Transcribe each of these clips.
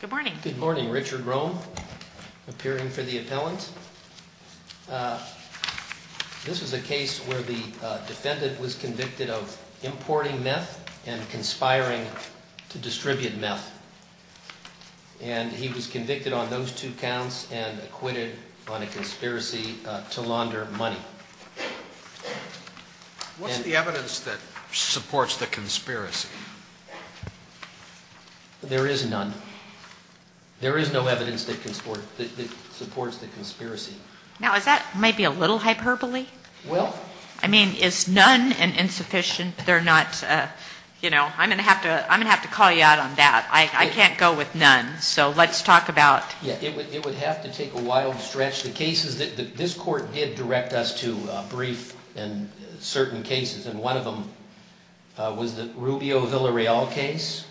Good morning, Richard Rome, appearing for the appellant. This is a case where the defendant was convicted of importing meth and conspiring to distribute meth. And he was convicted on those two counts and acquitted on a conspiracy to launder money. What's the evidence that supports the conspiracy? There is none. There is no evidence that supports the conspiracy. Now, is that maybe a little hyperbole? Well... I mean, is none an insufficient? They're not, you know, I'm going to have to call you out on that. I can't go with none. So let's talk about... It would have to take a wild stretch. The cases that this Court did direct us to brief in certain cases, and one of them was the Rubio-Villareal case.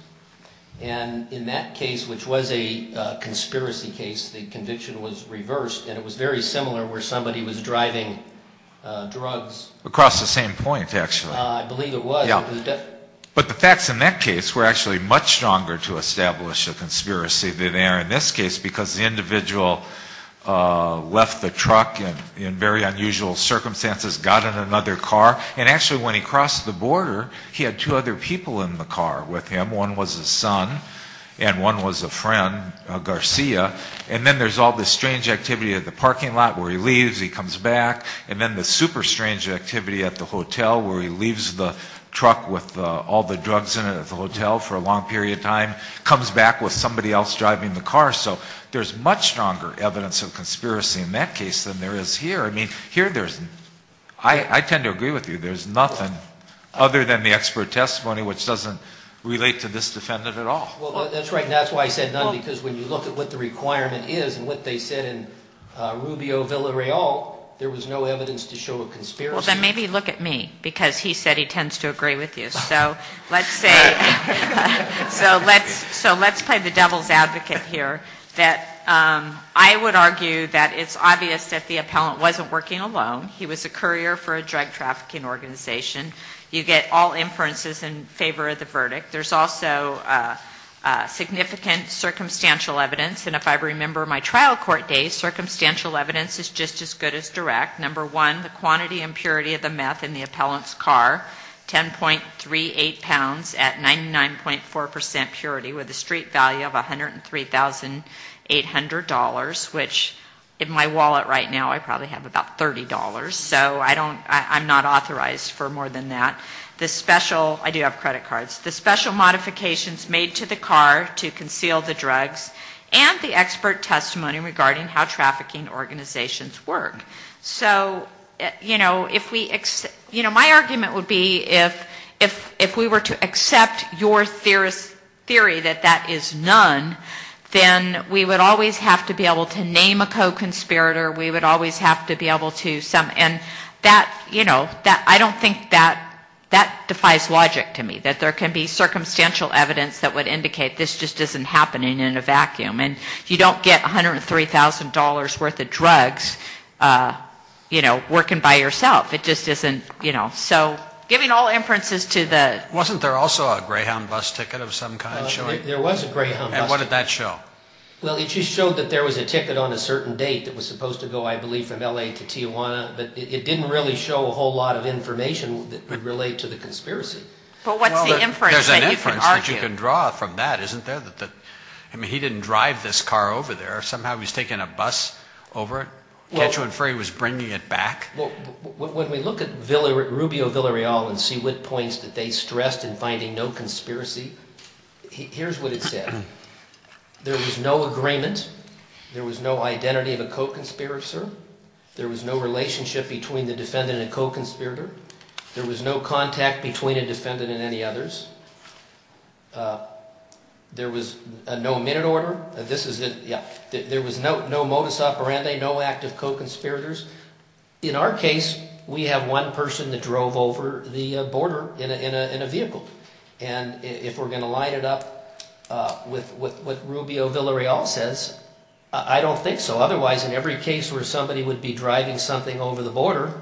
And in that case, which was a conspiracy case, the conviction was reversed, and it was very similar where somebody was driving drugs. Across the same point, actually. I believe it was. But the facts in that case were actually much stronger to establish a conspiracy than they are in this case, because the individual left the truck in very unusual circumstances, got in another car, and actually when he crossed the border, he had two other people in the car with him. One was his son, and one was a friend, Garcia, and then there's all this strange activity at the parking lot where he leaves, he comes back, and then this super strange activity at the hotel where he leaves the truck with all the drugs in it at the hotel for a long period of time, comes back with somebody else driving the car. So there's much stronger evidence of conspiracy in that case than there is here. I mean, here there's... I tend to agree with you. There's nothing other than the expert testimony which doesn't relate to this defendant at all. Well, that's right, and that's why I said none, because when you look at what the requirement is and what they said in Rubio Villareal, there was no evidence to show a conspiracy. Well, then maybe look at me, because he said he tends to agree with you. So let's say... So let's play the devil's advocate here that I would argue that it's obvious that the appellant wasn't working alone. He was a courier for a drug trafficking organization. You get all inferences in favor of the verdict. There's also significant circumstantial evidence, and if I remember my trial court days, circumstantial evidence is just as good as direct. Number one, the quantity and purity of the meth in the appellant's car, 10.38 pounds at 99.4% purity with a street value of $103,800, which in my wallet right now I probably have about $30, so I don't... I'm not authorized for more than that. I do have credit cards. The special modifications made to the car to conceal the drugs and the expert testimony regarding how trafficking organizations work. So, you know, my argument would be if we were to accept your theory that that is none, then we would always have to be able to name a co-conspirator. We would always have to be able to... And that, you know, I don't think that defies logic to me, that there can be circumstantial evidence that would indicate this just isn't happening in a vacuum. And you don't get $103,000 worth of drugs, you know, working by yourself. It just isn't, you know, so giving all inferences to the... Wasn't there also a Greyhound bus ticket of some kind showing? There was a Greyhound bus ticket. And what did that show? Well, it just showed that there was a ticket on a certain date that was supposed to go, I believe, from L.A. to Tijuana. But it didn't really show a whole lot of information that would relate to the conspiracy. But what's the inference that you can argue? Well, there's an inference that you can draw from that, isn't there? I mean, he didn't drive this car over there. Somehow he was taking a bus over it. Can't you infer he was bringing it back? Well, when we look at Rubio Villarreal and see what points that they stressed in finding no conspiracy, here's what it said. There was no agreement. There was no identity of a co-conspirator. There was no relationship between the defendant and the co-conspirator. There was no contact between a defendant and any others. There was no minute order. This is it, yeah. There was no modus operandi, no active co-conspirators. In our case, we have one person that drove over the border in a vehicle. And if we're going to line it up with what Rubio Villarreal says, I don't think so. Otherwise, in every case where somebody would be driving something over the border,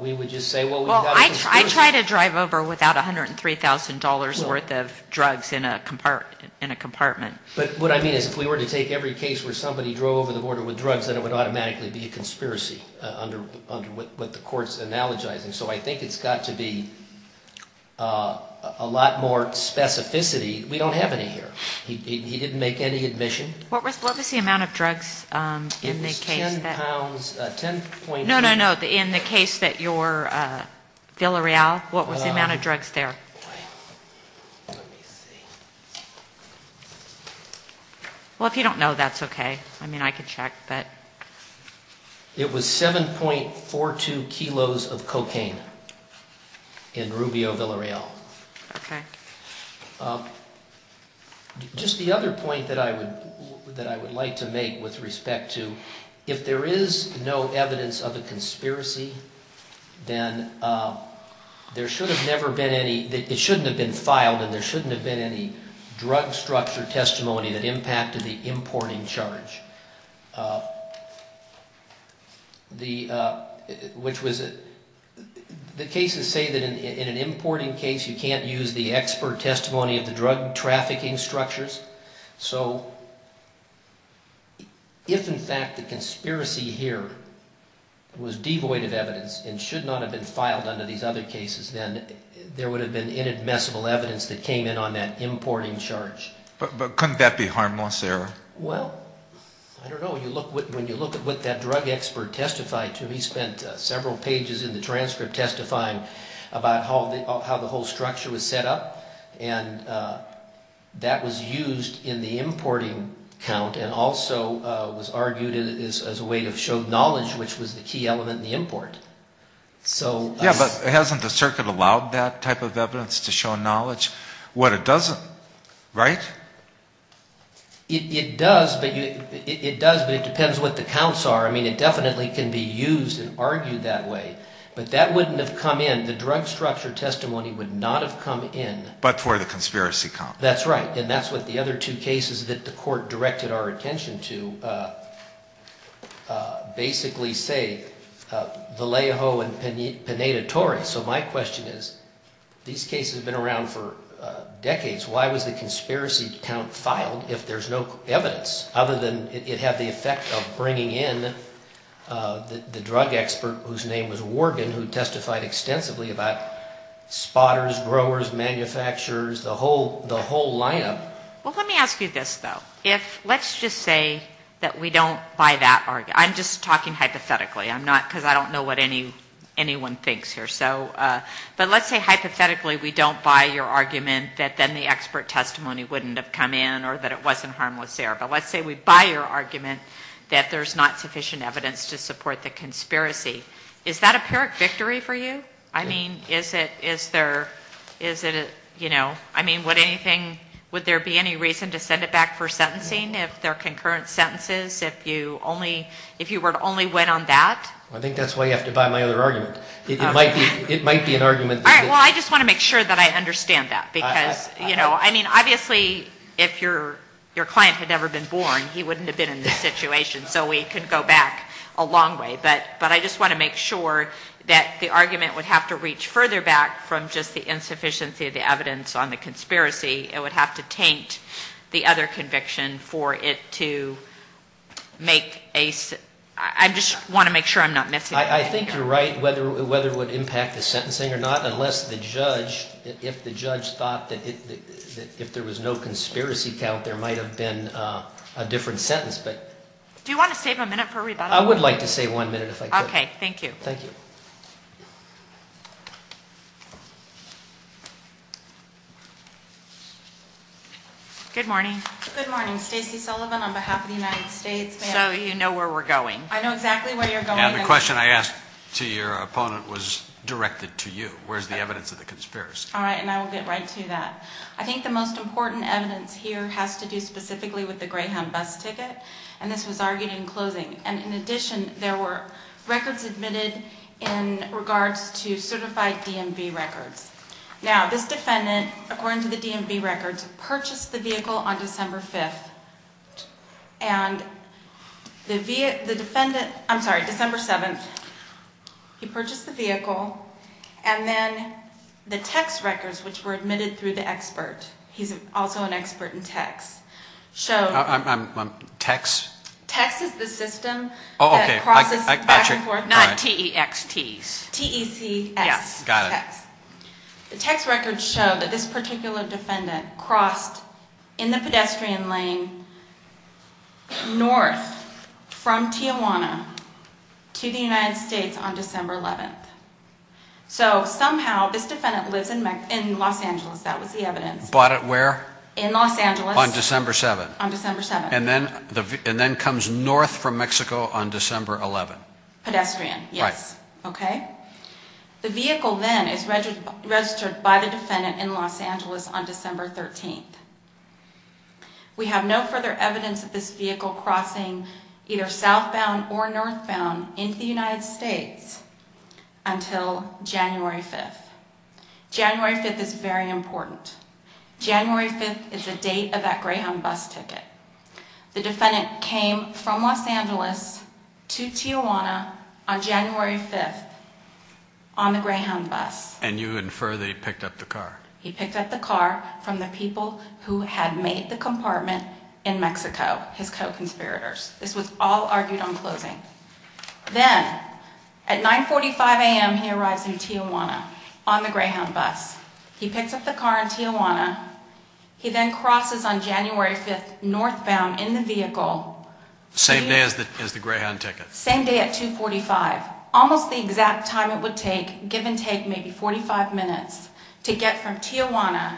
we would just say, well, we have a conspiracy. Well, I try to drive over without $103,000 worth of drugs in a compartment. But what I mean is if we were to take every case where somebody drove over the border with drugs, then it would automatically be a conspiracy under what the court's analogizing. So I think it's got to be a lot more specificity. We don't have any here. He didn't make any admission. What was the amount of drugs in the case that... It was 10 pounds, 10.2... No, no, no. In the case that you're Villarreal, what was the amount of drugs there? Let me see. Well, if you don't know, that's okay. I mean, I can check, but... It was 7.42 kilos of cocaine in Rubio Villarreal. Okay. Just the other point that I would like to make with respect to if there is no evidence of a conspiracy, then there should have never been any... It shouldn't have been filed, and there shouldn't have been any drug structure testimony that impacted the importing charge. The cases say that in an importing case, you can't use the expert testimony of the drug trafficking structures. So if, in fact, the conspiracy here was devoid of evidence and should not have been filed under these other cases, then there would have been inadmissible evidence that came in on that importing charge. But couldn't that be harmless error? Well, I don't know. When you look at what that drug expert testified to, he spent several pages in the transcript testifying about how the whole structure was set up. And that was used in the importing count and also was argued as a way to show knowledge, which was the key element in the import. So... Yeah, but hasn't the circuit allowed that type of evidence to show knowledge? What it doesn't, right? It does, but it depends what the counts are. I mean, it definitely can be used and argued that way, but that wouldn't have come in. The drug structure testimony would not have come in. But for the conspiracy count. That's right, and that's what the other two cases that the court directed our attention to basically say, Vallejo and Pineda Torres. So my question is, these cases have been around for decades. Why was the conspiracy count filed if there's no evidence other than it had the effect of bringing in the drug expert whose name was Worgen, who testified extensively about spotters, growers, manufacturers, the whole lineup? Well, let me ask you this, though. If, let's just say that we don't buy that argument. I'm just talking hypothetically. I'm not, because I don't know what anyone thinks here. So, but let's say hypothetically we don't buy your argument that then the expert testimony wouldn't have come in or that it wasn't harmless there. But let's say we buy your argument that there's not sufficient evidence to support the conspiracy. Is that a pyrrhic victory for you? I mean, is it, is there, is it, you know, I mean, would anything, would there be any reason to send it back for sentencing if there are concurrent sentences? If you only, if you were to only win on that? I think that's why you have to buy my other argument. It might be, it might be an argument. All right. Well, I just want to make sure that I understand that because, you know, I mean, obviously if your, your client had never been born, he wouldn't have been in this situation, so we could go back a long way. But, but I just want to make sure that the argument would have to reach further back from just the insufficiency of the evidence on the conspiracy. It would have to taint the other conviction for it to make a, I just want to make sure I'm not missing anything. I think you're right, whether, whether it would impact the sentencing or not, unless the judge, if the judge thought that if there was no conspiracy count, there might have been a different sentence. Do you want to save a minute for rebuttal? I would like to save one minute if I could. Okay, thank you. Thank you. Good morning. Good morning. Stacey Sullivan on behalf of the United States. So you know where we're going. I know exactly where you're going. Yeah, the question I asked to your opponent was directed to you. Where's the evidence of the conspiracy? All right, and I will get right to that. I think the most important evidence here has to do specifically with the Greyhound bus ticket, and this was argued in closing. And in addition, there were records admitted in regards to certified DMV records. Now, this defendant, according to the DMV records, purchased the vehicle on December 5th, and the defendant, I'm sorry, December 7th, he purchased the vehicle, and then the text records, which were admitted through the expert, he's also an expert in text, showed. Text? Text is the system that crosses back and forth. Not T-E-X-T. T-E-C-S. Got it. T-E-C-S. The text records show that this particular defendant crossed in the pedestrian lane north from Tijuana to the United States on December 11th. So somehow this defendant lives in Los Angeles. That was the evidence. Bought it where? In Los Angeles. On December 7th. On December 7th. And then comes north from Mexico on December 11th. Pedestrian, yes. Right. Okay? The vehicle then is registered by the defendant in Los Angeles on December 13th. We have no further evidence of this vehicle crossing either southbound or northbound into the United States until January 5th. January 5th is very important. January 5th is the date of that Greyhound bus ticket. The defendant came from Los Angeles to Tijuana on January 5th on the Greyhound bus. And you infer that he picked up the car. He picked up the car from the people who had made the compartment in Mexico, his co-conspirators. This was all argued on closing. Then at 9.45 a.m. he arrives in Tijuana on the Greyhound bus. He picks up the car in Tijuana. He then crosses on January 5th northbound in the vehicle. Same day as the Greyhound ticket. Same day at 2.45. Almost the exact time it would take, give and take maybe 45 minutes, to get from Tijuana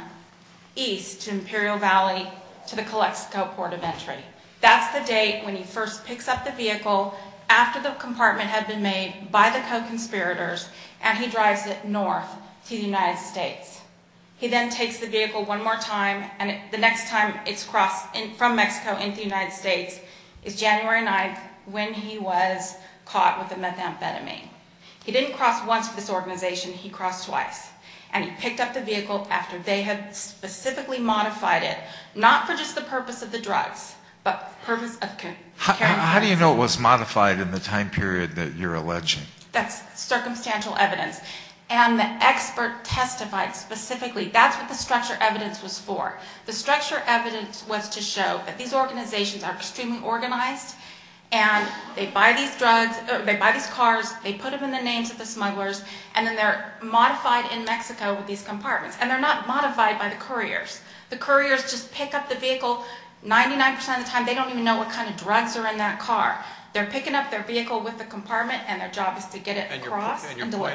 east to Imperial Valley to the Calexico port of entry. That's the date when he first picks up the vehicle after the compartment had been made by the co-conspirators and he drives it north to the United States. He then takes the vehicle one more time and the next time it's crossed from Mexico into the United States is January 9th when he was caught with the methamphetamine. He didn't cross once for this organization, he crossed twice. And he picked up the vehicle after they had specifically modified it, not for just the purpose of the drugs, but for the purpose of carrying the drugs. How do you know it was modified in the time period that you're alleging? That's circumstantial evidence. And the expert testified specifically. That's what the structural evidence was for. The structural evidence was to show that these organizations are extremely organized and they buy these cars, they put them in the names of the smugglers, and then they're modified in Mexico with these compartments. And they're not modified by the couriers. The couriers just pick up the vehicle 99% of the time. They don't even know what kind of drugs are in that car. And your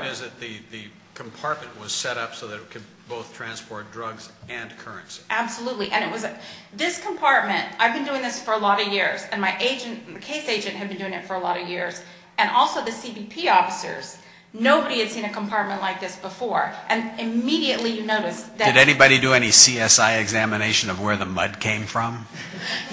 point is that the compartment was set up so that it could both transport drugs and currency. Absolutely. This compartment, I've been doing this for a lot of years, and my case agent had been doing it for a lot of years, and also the CBP officers, nobody had seen a compartment like this before. And immediately you notice that. Did anybody do any CSI examination of where the mud came from?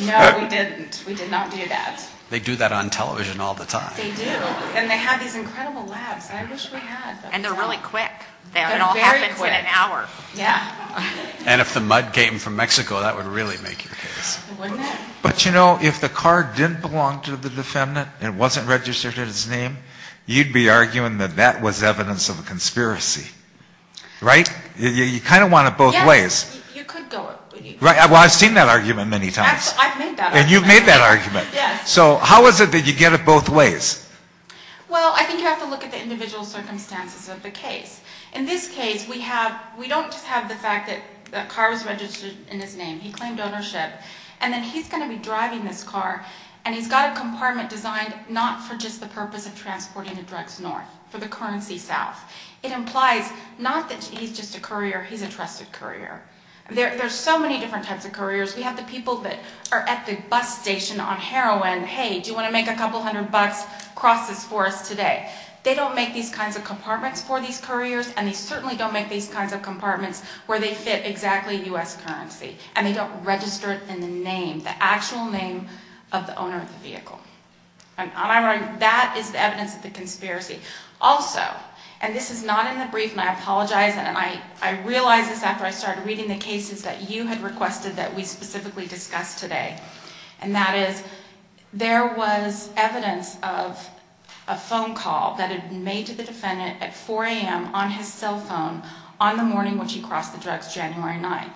No, we didn't. We did not do that. They do that on television all the time. Yes, they do. And they have these incredible labs. I wish we had. And they're really quick. They're very quick. It all happens in an hour. Yeah. And if the mud came from Mexico, that would really make your case. Wouldn't it? But, you know, if the car didn't belong to the defendant and it wasn't registered in his name, you'd be arguing that that was evidence of a conspiracy. Right? You kind of want it both ways. Yes, you could go. Well, I've seen that argument many times. I've made that argument. And you've made that argument. Yes. So how is it that you get it both ways? Well, I think you have to look at the individual circumstances of the case. In this case, we don't just have the fact that the car was registered in his name. He claimed ownership. And then he's going to be driving this car, and he's got a compartment designed not for just the purpose of transporting the drugs north, for the currency south. It implies not that he's just a courier. He's a trusted courier. There are so many different types of couriers. We have the people that are at the bus station on heroin. Hey, do you want to make a couple hundred bucks? Cross this for us today. They don't make these kinds of compartments for these couriers, and they certainly don't make these kinds of compartments where they fit exactly U.S. currency. And they don't register it in the name, the actual name of the owner of the vehicle. And that is evidence of the conspiracy. Also, and this is not in the brief, and I apologize, and I realized this after I started reading the cases that you had requested that we specifically discuss today, and that is there was evidence of a phone call that had been made to the defendant at 4 a.m. on his cell phone on the morning which he crossed the drugs, January 9th.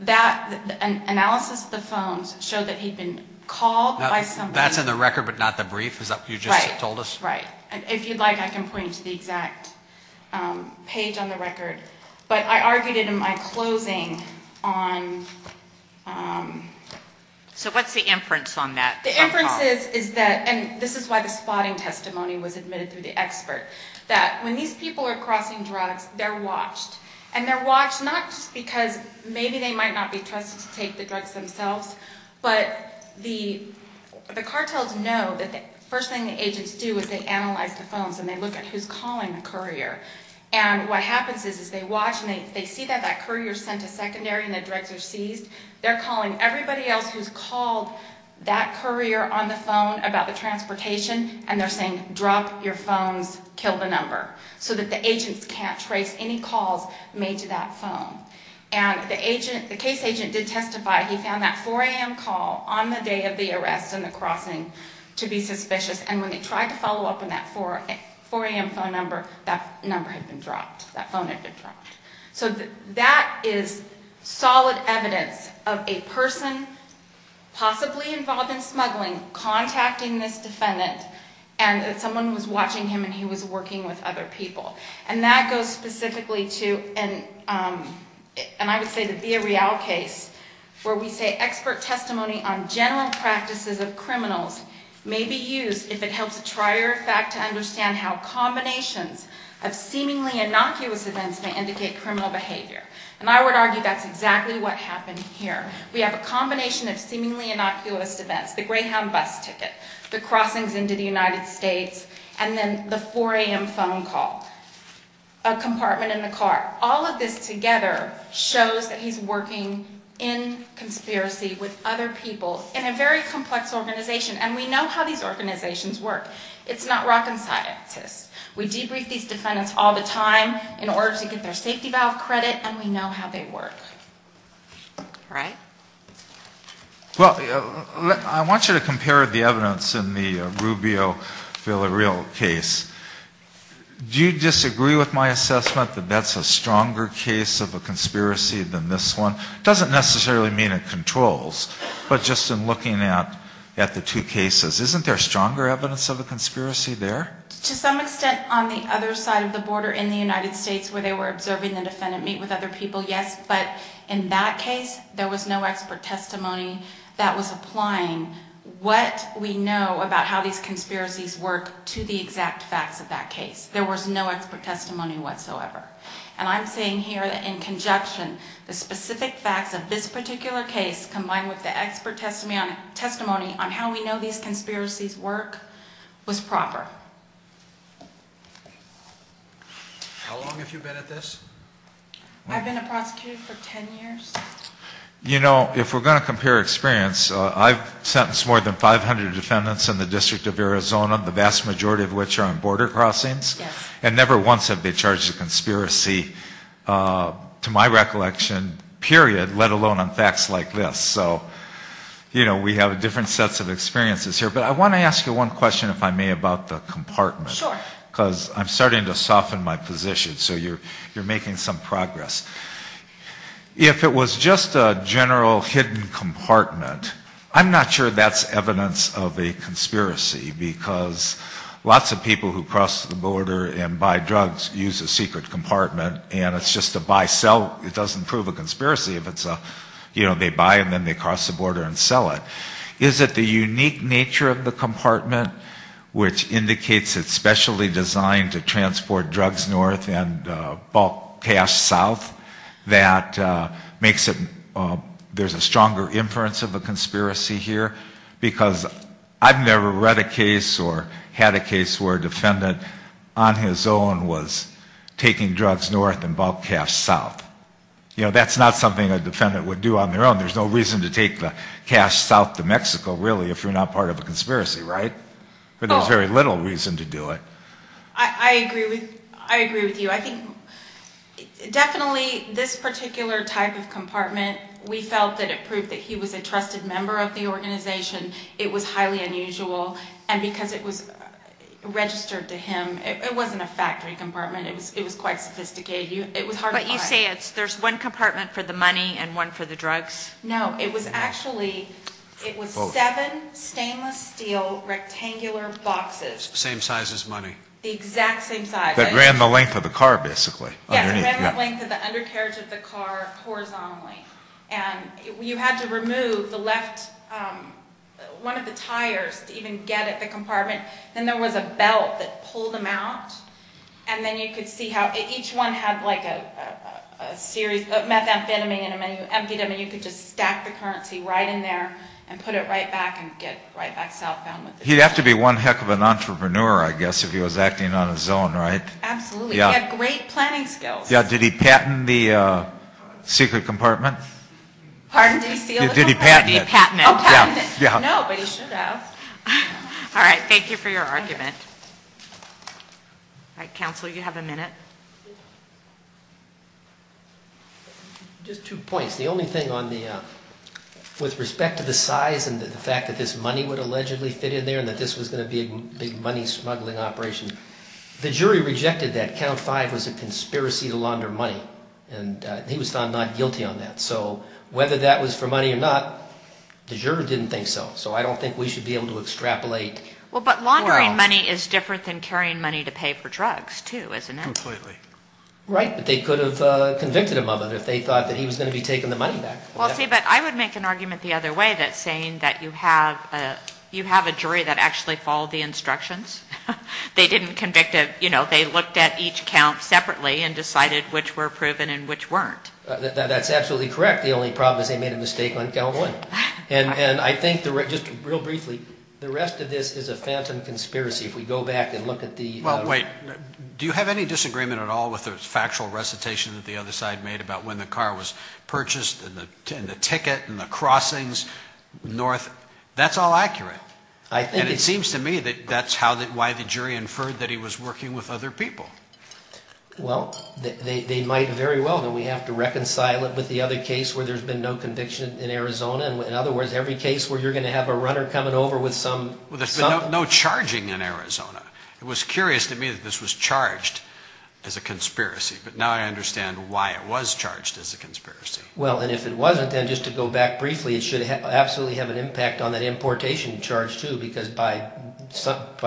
That analysis of the phones showed that he'd been called by somebody. That's in the record but not the brief? Is that what you just told us? Right, right. If you'd like, I can point you to the exact page on the record. But I argued it in my closing on... So what's the inference on that phone call? The inference is that, and this is why the spotting testimony was admitted through the expert, that when these people are crossing drugs, they're watched. And they're watched not just because maybe they might not be trusted to take the drugs themselves, but the cartels know that the first thing the agents do is they analyze the phones and they look at who's calling the courier. And what happens is they watch and they see that that courier sent a secondary and the drugs are seized. They're calling everybody else who's called that courier on the phone about the transportation, and they're saying, drop your phones, kill the number, so that the agents can't trace any calls made to that phone. And the case agent did testify. He found that 4 a.m. call on the day of the arrest and the crossing to be suspicious. And when they tried to follow up on that 4 a.m. phone number, that number had been dropped. That phone had been dropped. So that is solid evidence of a person possibly involved in smuggling contacting this defendant and that someone was watching him and he was working with other people. And that goes specifically to, and I would say the Villarreal case, where we say expert testimony on general practices of criminals may be used if it helps a trier fact to understand how combinations of seemingly innocuous events may indicate criminal behavior. And I would argue that's exactly what happened here. We have a combination of seemingly innocuous events, the Greyhound bus ticket, the crossings into the United States, and then the 4 a.m. phone call. A compartment in the car. All of this together shows that he's working in conspiracy with other people in a very complex organization. And we know how these organizations work. It's not rock and scientists. We debrief these defendants all the time in order to get their safety valve credit, and we know how they work. All right? Well, I want you to compare the evidence in the Rubio Villarreal case. Do you disagree with my assessment that that's a stronger case of a conspiracy than this one? It doesn't necessarily mean it controls. But just in looking at the two cases, isn't there stronger evidence of a conspiracy there? To some extent on the other side of the border in the United States where they were observing the defendant Yes, but in that case, there was no expert testimony that was applying what we know about how these conspiracies work to the exact facts of that case. There was no expert testimony whatsoever. And I'm saying here that in conjunction, the specific facts of this particular case combined with the expert testimony on how we know these conspiracies work was proper. How long have you been at this? I've been a prosecutor for 10 years. You know, if we're going to compare experience, I've sentenced more than 500 defendants in the District of Arizona, the vast majority of which are on border crossings. Yes. And never once have they charged a conspiracy to my recollection, period, let alone on facts like this. So, you know, we have different sets of experiences here. But I want to ask you one question, if I may, about the compartment. Sure. Because I'm starting to soften my position, so you're making some progress. If it was just a general hidden compartment, I'm not sure that's evidence of a conspiracy, because lots of people who cross the border and buy drugs use a secret compartment, and it's just a buy-sell. It doesn't prove a conspiracy if it's a, you know, they buy and then they cross the border and sell it. Is it the unique nature of the compartment, which indicates it's specially designed to transport drugs north and bulk cash south, that makes it, there's a stronger inference of a conspiracy here? Because I've never read a case or had a case where a defendant on his own was taking drugs north and bulk cash south. You know, that's not something a defendant would do on their own. There's no reason to take the cash south to Mexico, really, if you're not part of a conspiracy, right? There's very little reason to do it. I agree with you. I think definitely this particular type of compartment, we felt that it proved that he was a trusted member of the organization. It was highly unusual. And because it was registered to him, it wasn't a factory compartment. It was quite sophisticated. It was hard to find. But you say there's one compartment for the money and one for the drugs? No, it was actually, it was seven stainless steel rectangular boxes. Same size as money. The exact same size. That ran the length of the car, basically. Yes, ran the length of the undercarriage of the car horizontally. And you had to remove the left, one of the tires to even get at the compartment. Then there was a belt that pulled them out. And then you could see how each one had like a series of methamphetamine and amphetamine. You could just stack the currency right in there and put it right back and get right back southbound. He'd have to be one heck of an entrepreneur, I guess, if he was acting on his own, right? Absolutely. He had great planning skills. Did he patent the secret compartment? Pardon? Did he seal the compartment? Did he patent it? Oh, patent it. No, but he should have. All right. Thank you for your argument. All right, counsel, you have a minute. Just two points. The only thing on the, with respect to the size and the fact that this money would allegedly fit in there and that this was going to be a big money smuggling operation, the jury rejected that. Count five was a conspiracy to launder money. And he was found not guilty on that. So whether that was for money or not, the juror didn't think so. So I don't think we should be able to extrapolate. Well, but laundering money is different than carrying money to pay for drugs, too, isn't it? Completely. Right, but they could have convicted him of it if they thought that he was going to be taking the money back. Well, see, but I would make an argument the other way that saying that you have a jury that actually followed the instructions. They didn't convict a, you know, they looked at each count separately and decided which were proven and which weren't. That's absolutely correct. The only problem is they made a mistake on count one. And I think, just real briefly, the rest of this is a phantom conspiracy. If we go back and look at the- Well, wait. Do you have any disagreement at all with the factual recitation that the other side made about when the car was purchased and the ticket and the crossings north? That's all accurate. And it seems to me that that's why the jury inferred that he was working with other people. Well, they might very well. Then we have to reconcile it with the other case where there's been no conviction in Arizona. In other words, every case where you're going to have a runner coming over with some- Well, there's been no charging in Arizona. It was curious to me that this was charged as a conspiracy, but now I understand why it was charged as a conspiracy. Well, and if it wasn't, then just to go back briefly, it should absolutely have an impact on that importation charge, too, because by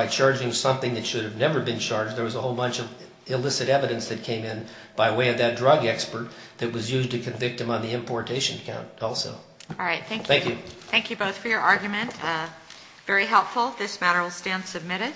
charging something that should have never been charged, there was a whole bunch of illicit evidence that came in by way of that drug expert that was used to convict him on the importation count also. All right. Thank you. Thank you. Thank you both for your argument. Very helpful. This matter will stand submitted.